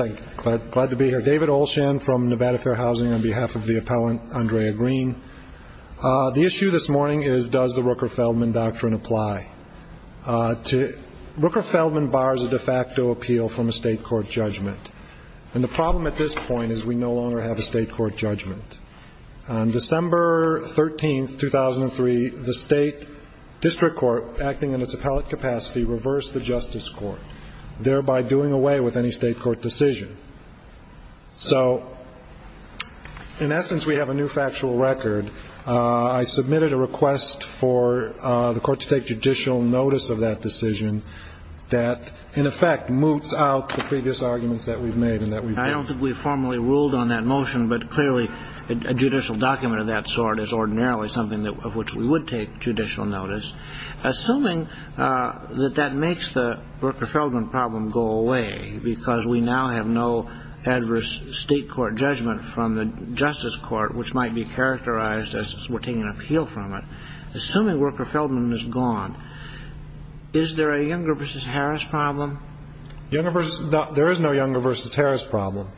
I'm glad to be here. David Olshan from Nevada Fair Housing on behalf of the appellant, Andrea Green. The issue this morning is does the Rooker-Feldman doctrine apply? Rooker-Feldman bars a de facto appeal from a State court judgment. And the problem at this point is we no longer have a State court judgment. On December 13, 2003, the State District Court, acting in its appellate capacity, reversed the Justice Court, thereby doing away with any State court decision. So, in essence, we have a new factual record. I submitted a request for the Court to take judicial notice of that decision that, in effect, moots out the previous arguments that we've made and that we've broken. I don't think we formally ruled on that motion, but clearly a judicial document of that sort is ordinarily something of which we would take judicial notice. Assuming that that makes the Rooker-Feldman problem go away, because we now have no adverse State court judgment from the Justice Court, which might be characterized as we're taking an appeal from it, assuming Rooker-Feldman is gone, is there a Younger v. Harris problem? There is no Younger v. Harris problem.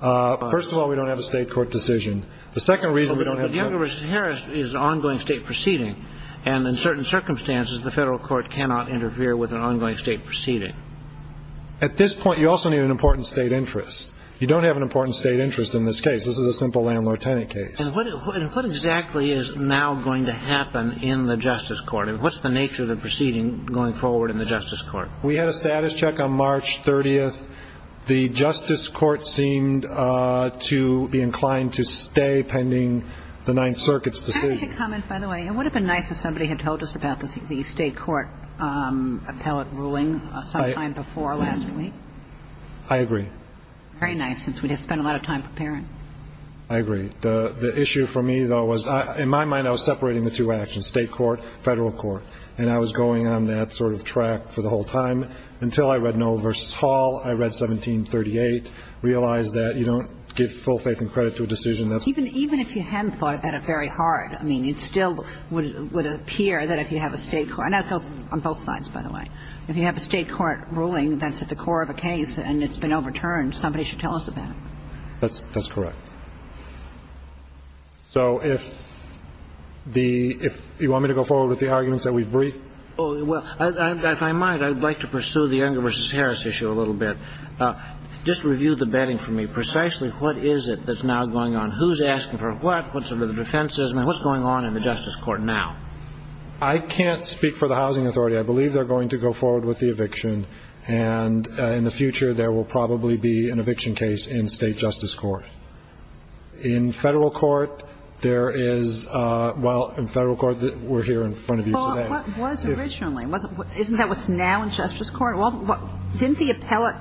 First of all, we don't have a State court decision. The second reason we don't have that. But Younger v. Harris is an ongoing State proceeding, and in certain circumstances the federal court cannot interfere with an ongoing State proceeding. At this point, you also need an important State interest. You don't have an important State interest in this case. This is a simple landlord-tenant case. And what exactly is now going to happen in the Justice Court? What's the nature of the proceeding going forward in the Justice Court? We had a status check on March 30th. The Justice Court seemed to be inclined to stay pending the Ninth Circuit's decision. I have a quick comment, by the way. It would have been nice if somebody had told us about the State court appellate ruling sometime before last week. I agree. Very nice, since we'd have spent a lot of time preparing. I agree. The issue for me, though, was in my mind I was separating the two actions, State court, federal court, and I was going on that sort of track for the whole time until I read realize that you don't give full faith and credit to a decision that's... Even if you hadn't thought about it very hard, I mean, it still would appear that if you have a State court, and that goes on both sides, by the way, if you have a State court ruling that's at the core of a case and it's been overturned, somebody should tell us about it. That's correct. So if the – if you want me to go forward with the arguments that we've briefed? Well, if I might, I'd like to pursue the Unger v. Harris issue a little bit. Just review the betting for me. Precisely what is it that's now going on? Who's asking for what? What's under the defense? I mean, what's going on in the Justice Court now? I can't speak for the Housing Authority. I believe they're going to go forward with the eviction, and in the future, there will probably be an eviction case in State justice court. In federal court, there is – well, in federal court, we're here in front of you today. Well, what was originally? Isn't that what's now in Justice Court? Well, didn't the appellate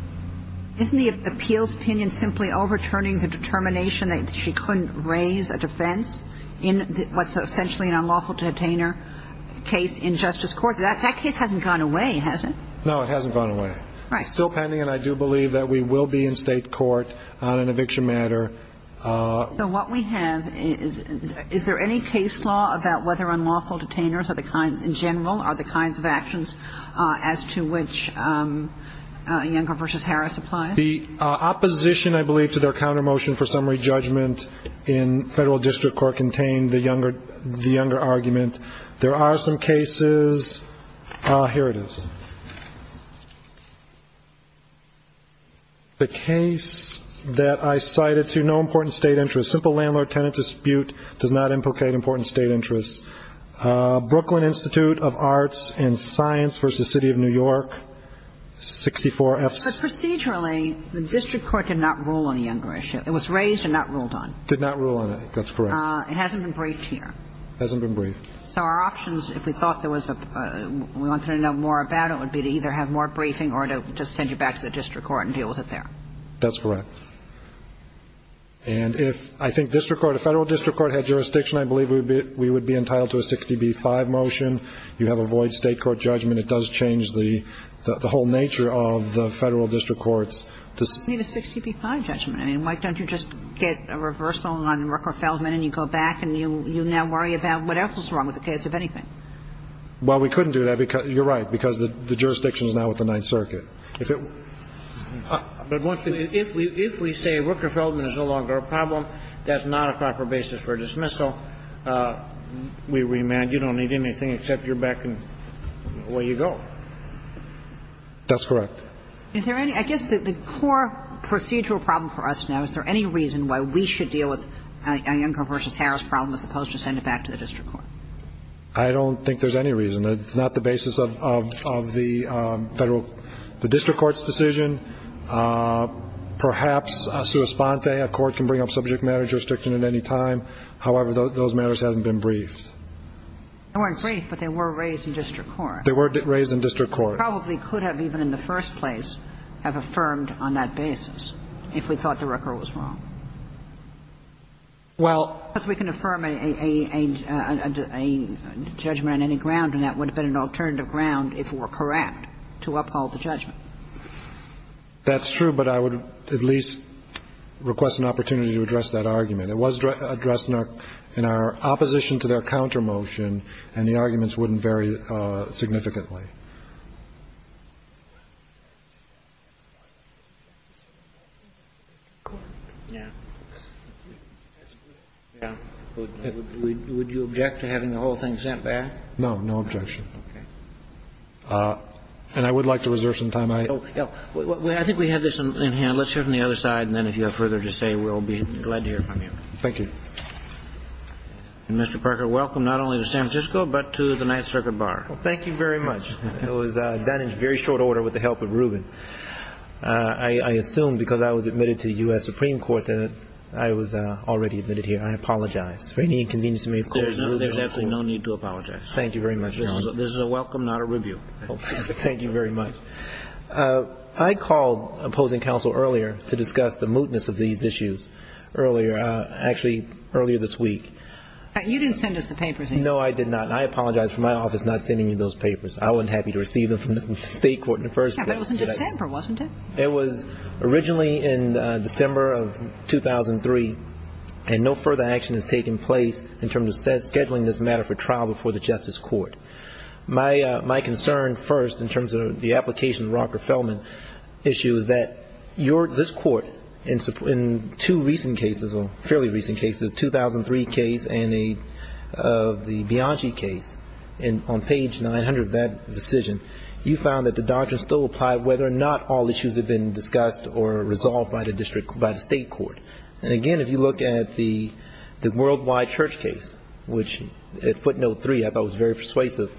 – isn't the appeals opinion simply overturning the determination that she couldn't raise a defense in what's essentially an unlawful detainer case in Justice Court? That case hasn't gone away, has it? No, it hasn't gone away. Right. It's still pending, and I do believe that we will be in State court on an eviction matter. So what we have is – is there any case law about whether unlawful detainers in general are the kinds of actions as to which Younger v. Harris applies? The opposition, I believe, to their countermotion for summary judgment in federal district court contained the Younger – the Younger argument. There are some cases – here it is. The case that I cited to no important State interest. Simple landlord-tenant dispute does not implicate important State interests. Brooklyn Institute of Arts and Science v. City of New York, 64 F. But procedurally, the district court did not rule on the Younger issue. It was raised and not ruled on. Did not rule on it. That's correct. It hasn't been briefed here. Hasn't been briefed. So our options, if we thought there was a – we wanted to know more about it, would be to either have more briefing or to just send you back to the district court and deal with it there. That's correct. And if I think district court – if federal district court had jurisdiction, I believe we would be entitled to a 60B-5 motion. You have a void State court judgment. It does change the whole nature of the federal district courts. You don't need a 60B-5 judgment. I mean, why don't you just get a reversal on Rooker-Feldman and you go back and you now worry about what else was wrong with the case, if anything? Well, we couldn't do that because – you're right, because the jurisdiction is now with the Ninth Circuit. If it – But once we – if we say Rooker-Feldman is no longer a problem, that's not a proper basis for dismissal. We remand you don't need anything except you're back and away you go. That's correct. Is there any – I guess the core procedural problem for us now, is there any reason why we should deal with a Younger v. Harris problem as opposed to send it back to the district court? I don't think there's any reason. It's not the basis of the federal – the district court's decision. Perhaps a sua sponte, a court can bring up subject matter jurisdiction at any time. However, those matters haven't been briefed. They weren't briefed, but they were raised in district court. They were raised in district court. We probably could have even in the first place have affirmed on that basis if we thought the Rooker was wrong. Well – Because we can affirm a judgment on any ground, and that would have been an alternative ground if it were correct to uphold the judgment. That's true, but I would at least request an opportunity to address that argument. It was addressed in our opposition to their counter motion, and the arguments wouldn't vary significantly. Would you object to having the whole thing sent back? No. No objection. Okay. And I would like to reserve some time. I – I think we have this in hand. All right. Let's hear from the other side, and then if you have further to say, we'll be glad to hear from you. Thank you. And, Mr. Parker, welcome not only to San Francisco, but to the Ninth Circuit Bar. Well, thank you very much. It was done in very short order with the help of Rubin. I assume because I was admitted to U.S. Supreme Court that I was already admitted here. I apologize for any inconvenience you may have caused. There's absolutely no need to apologize. Thank you very much, Your Honor. This is a welcome, not a review. Thank you very much. I called opposing counsel earlier to discuss the mootness of these issues earlier – actually, earlier this week. You didn't send us the papers, either. No, I did not. And I apologize for my office not sending you those papers. I wasn't happy to receive them from the State Court in the first place. Yeah, but it was in December, wasn't it? It was originally in December of 2003, and no further action has taken place in terms of scheduling this matter for trial before the Justice Court. My concern, first, in terms of the application of Rocker Fellman issue is that this court, in two recent cases, or fairly recent cases, 2003 case and the Bianchi case, on page 900 of that decision, you found that the doctrine still applied whether or not all issues had been discussed or resolved by the State Court. And, again, if you look at the worldwide church case, which at footnote three I thought was very persuasive.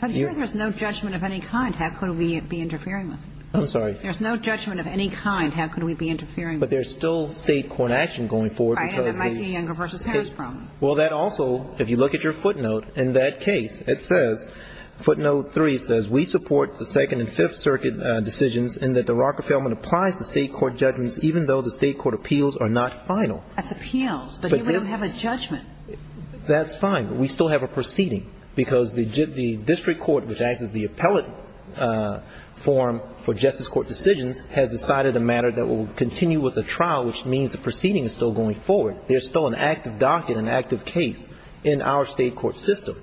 But here there's no judgment of any kind. How could we be interfering with it? I'm sorry? There's no judgment of any kind. How could we be interfering with it? But there's still State court action going forward because the – I think that might be a Younger v. Harris problem. Well, that also, if you look at your footnote, in that case it says, footnote three says, we support the Second and Fifth Circuit decisions in that the Rocker Fellman applies to State court judgments even though the State court appeals are not final. That's appeals, but here we don't have a judgment. That's fine. We still have a proceeding because the district court, which acts as the appellate form for Justice Court decisions, has decided a matter that will continue with a trial, which means the proceeding is still going forward. There's still an active docket, an active case in our State court system.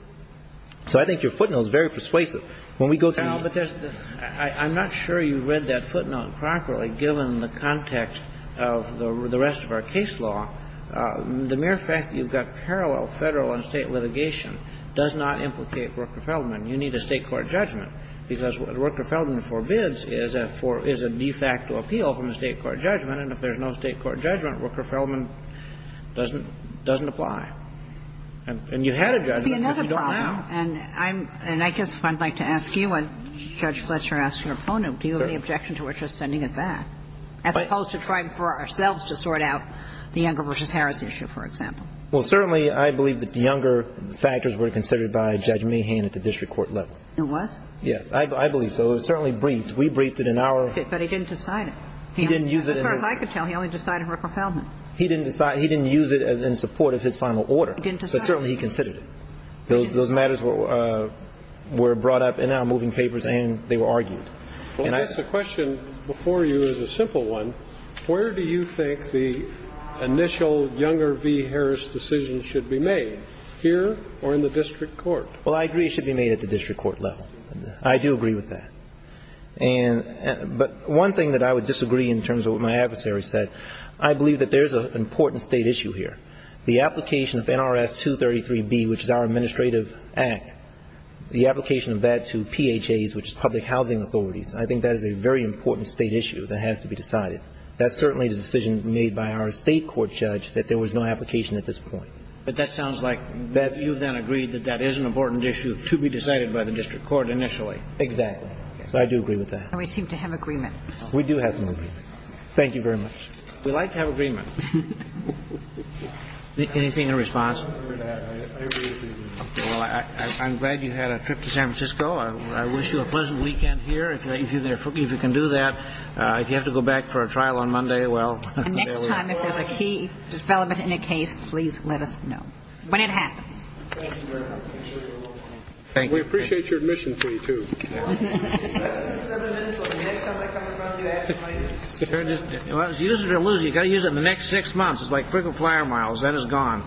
So I think your footnote is very persuasive. When we go to the – Well, but there's – I'm not sure you read that footnote properly given the context of the rest of our case law. The mere fact that you've got parallel Federal and State litigation does not implicate Rocker Fellman. You need a State court judgment because what Rocker Fellman forbids is a de facto appeal from the State court judgment, and if there's no State court judgment, Rocker Fellman doesn't – doesn't apply. And you had a judgment, but you don't have now. It would be another problem, and I'm – and I guess if I'd like to ask you and Judge Fletcher asked your footnote, do you have any objection to us just sending it back, as opposed to trying for ourselves to sort out the Younger v. Harris issue, for example? Well, certainly I believe that the Younger factors were considered by Judge Mahan at the district court level. It was? Yes. I believe so. It was certainly briefed. We briefed it in our – But he didn't decide it. He didn't use it in his – As far as I could tell, he only decided Rocker Fellman. He didn't decide – he didn't use it in support of his final order. He didn't decide it. But certainly he considered it. Those matters were brought up in our moving papers, and they were argued. Well, I guess the question before you is a simple one. Where do you think the initial Younger v. Harris decision should be made, here or in the district court? Well, I agree it should be made at the district court level. I do agree with that. And – but one thing that I would disagree in terms of what my adversary said, I believe that there's an important State issue here. The application of NRS 233b, which is our administrative act, the application of that to PHAs, which is public housing authorities. I think that is a very important State issue that has to be decided. That certainly is a decision made by our State court judge that there was no application at this point. But that sounds like you then agreed that that is an important issue to be decided by the district court initially. Exactly. So I do agree with that. And we seem to have agreement. We do have some agreement. Thank you very much. We like to have agreement. Anything in response? Well, I'm glad you had a trip to San Francisco. I wish you a pleasant weekend here. If you can do that. If you have to go back for a trial on Monday, well – And next time if there's a key development in a case, please let us know when it happens. Thank you very much. Thank you. We appreciate your admission fee, too. Seven minutes left. The next time I come in front of you, I have to pay this. Well, it's use it or lose it. You've got to use it in the next six months. It's like frequent flyer miles. That is gone.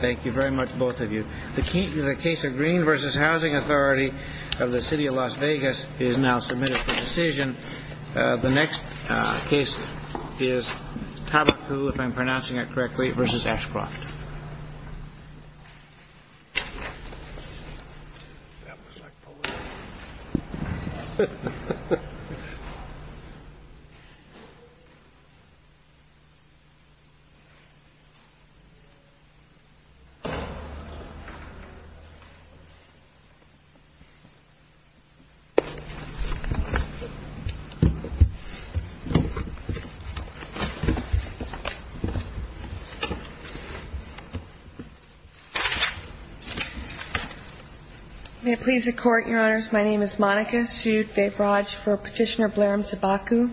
Thank you very much, both of you. The case of Green v. Housing Authority of the City of Las Vegas is now submitted for decision. The next case is Tabacu, if I'm pronouncing that correctly, v. Ashcroft. May it please the Court, Your Honors. My name is Monica Sudbevraj for Petitioner Blairm Tabacu.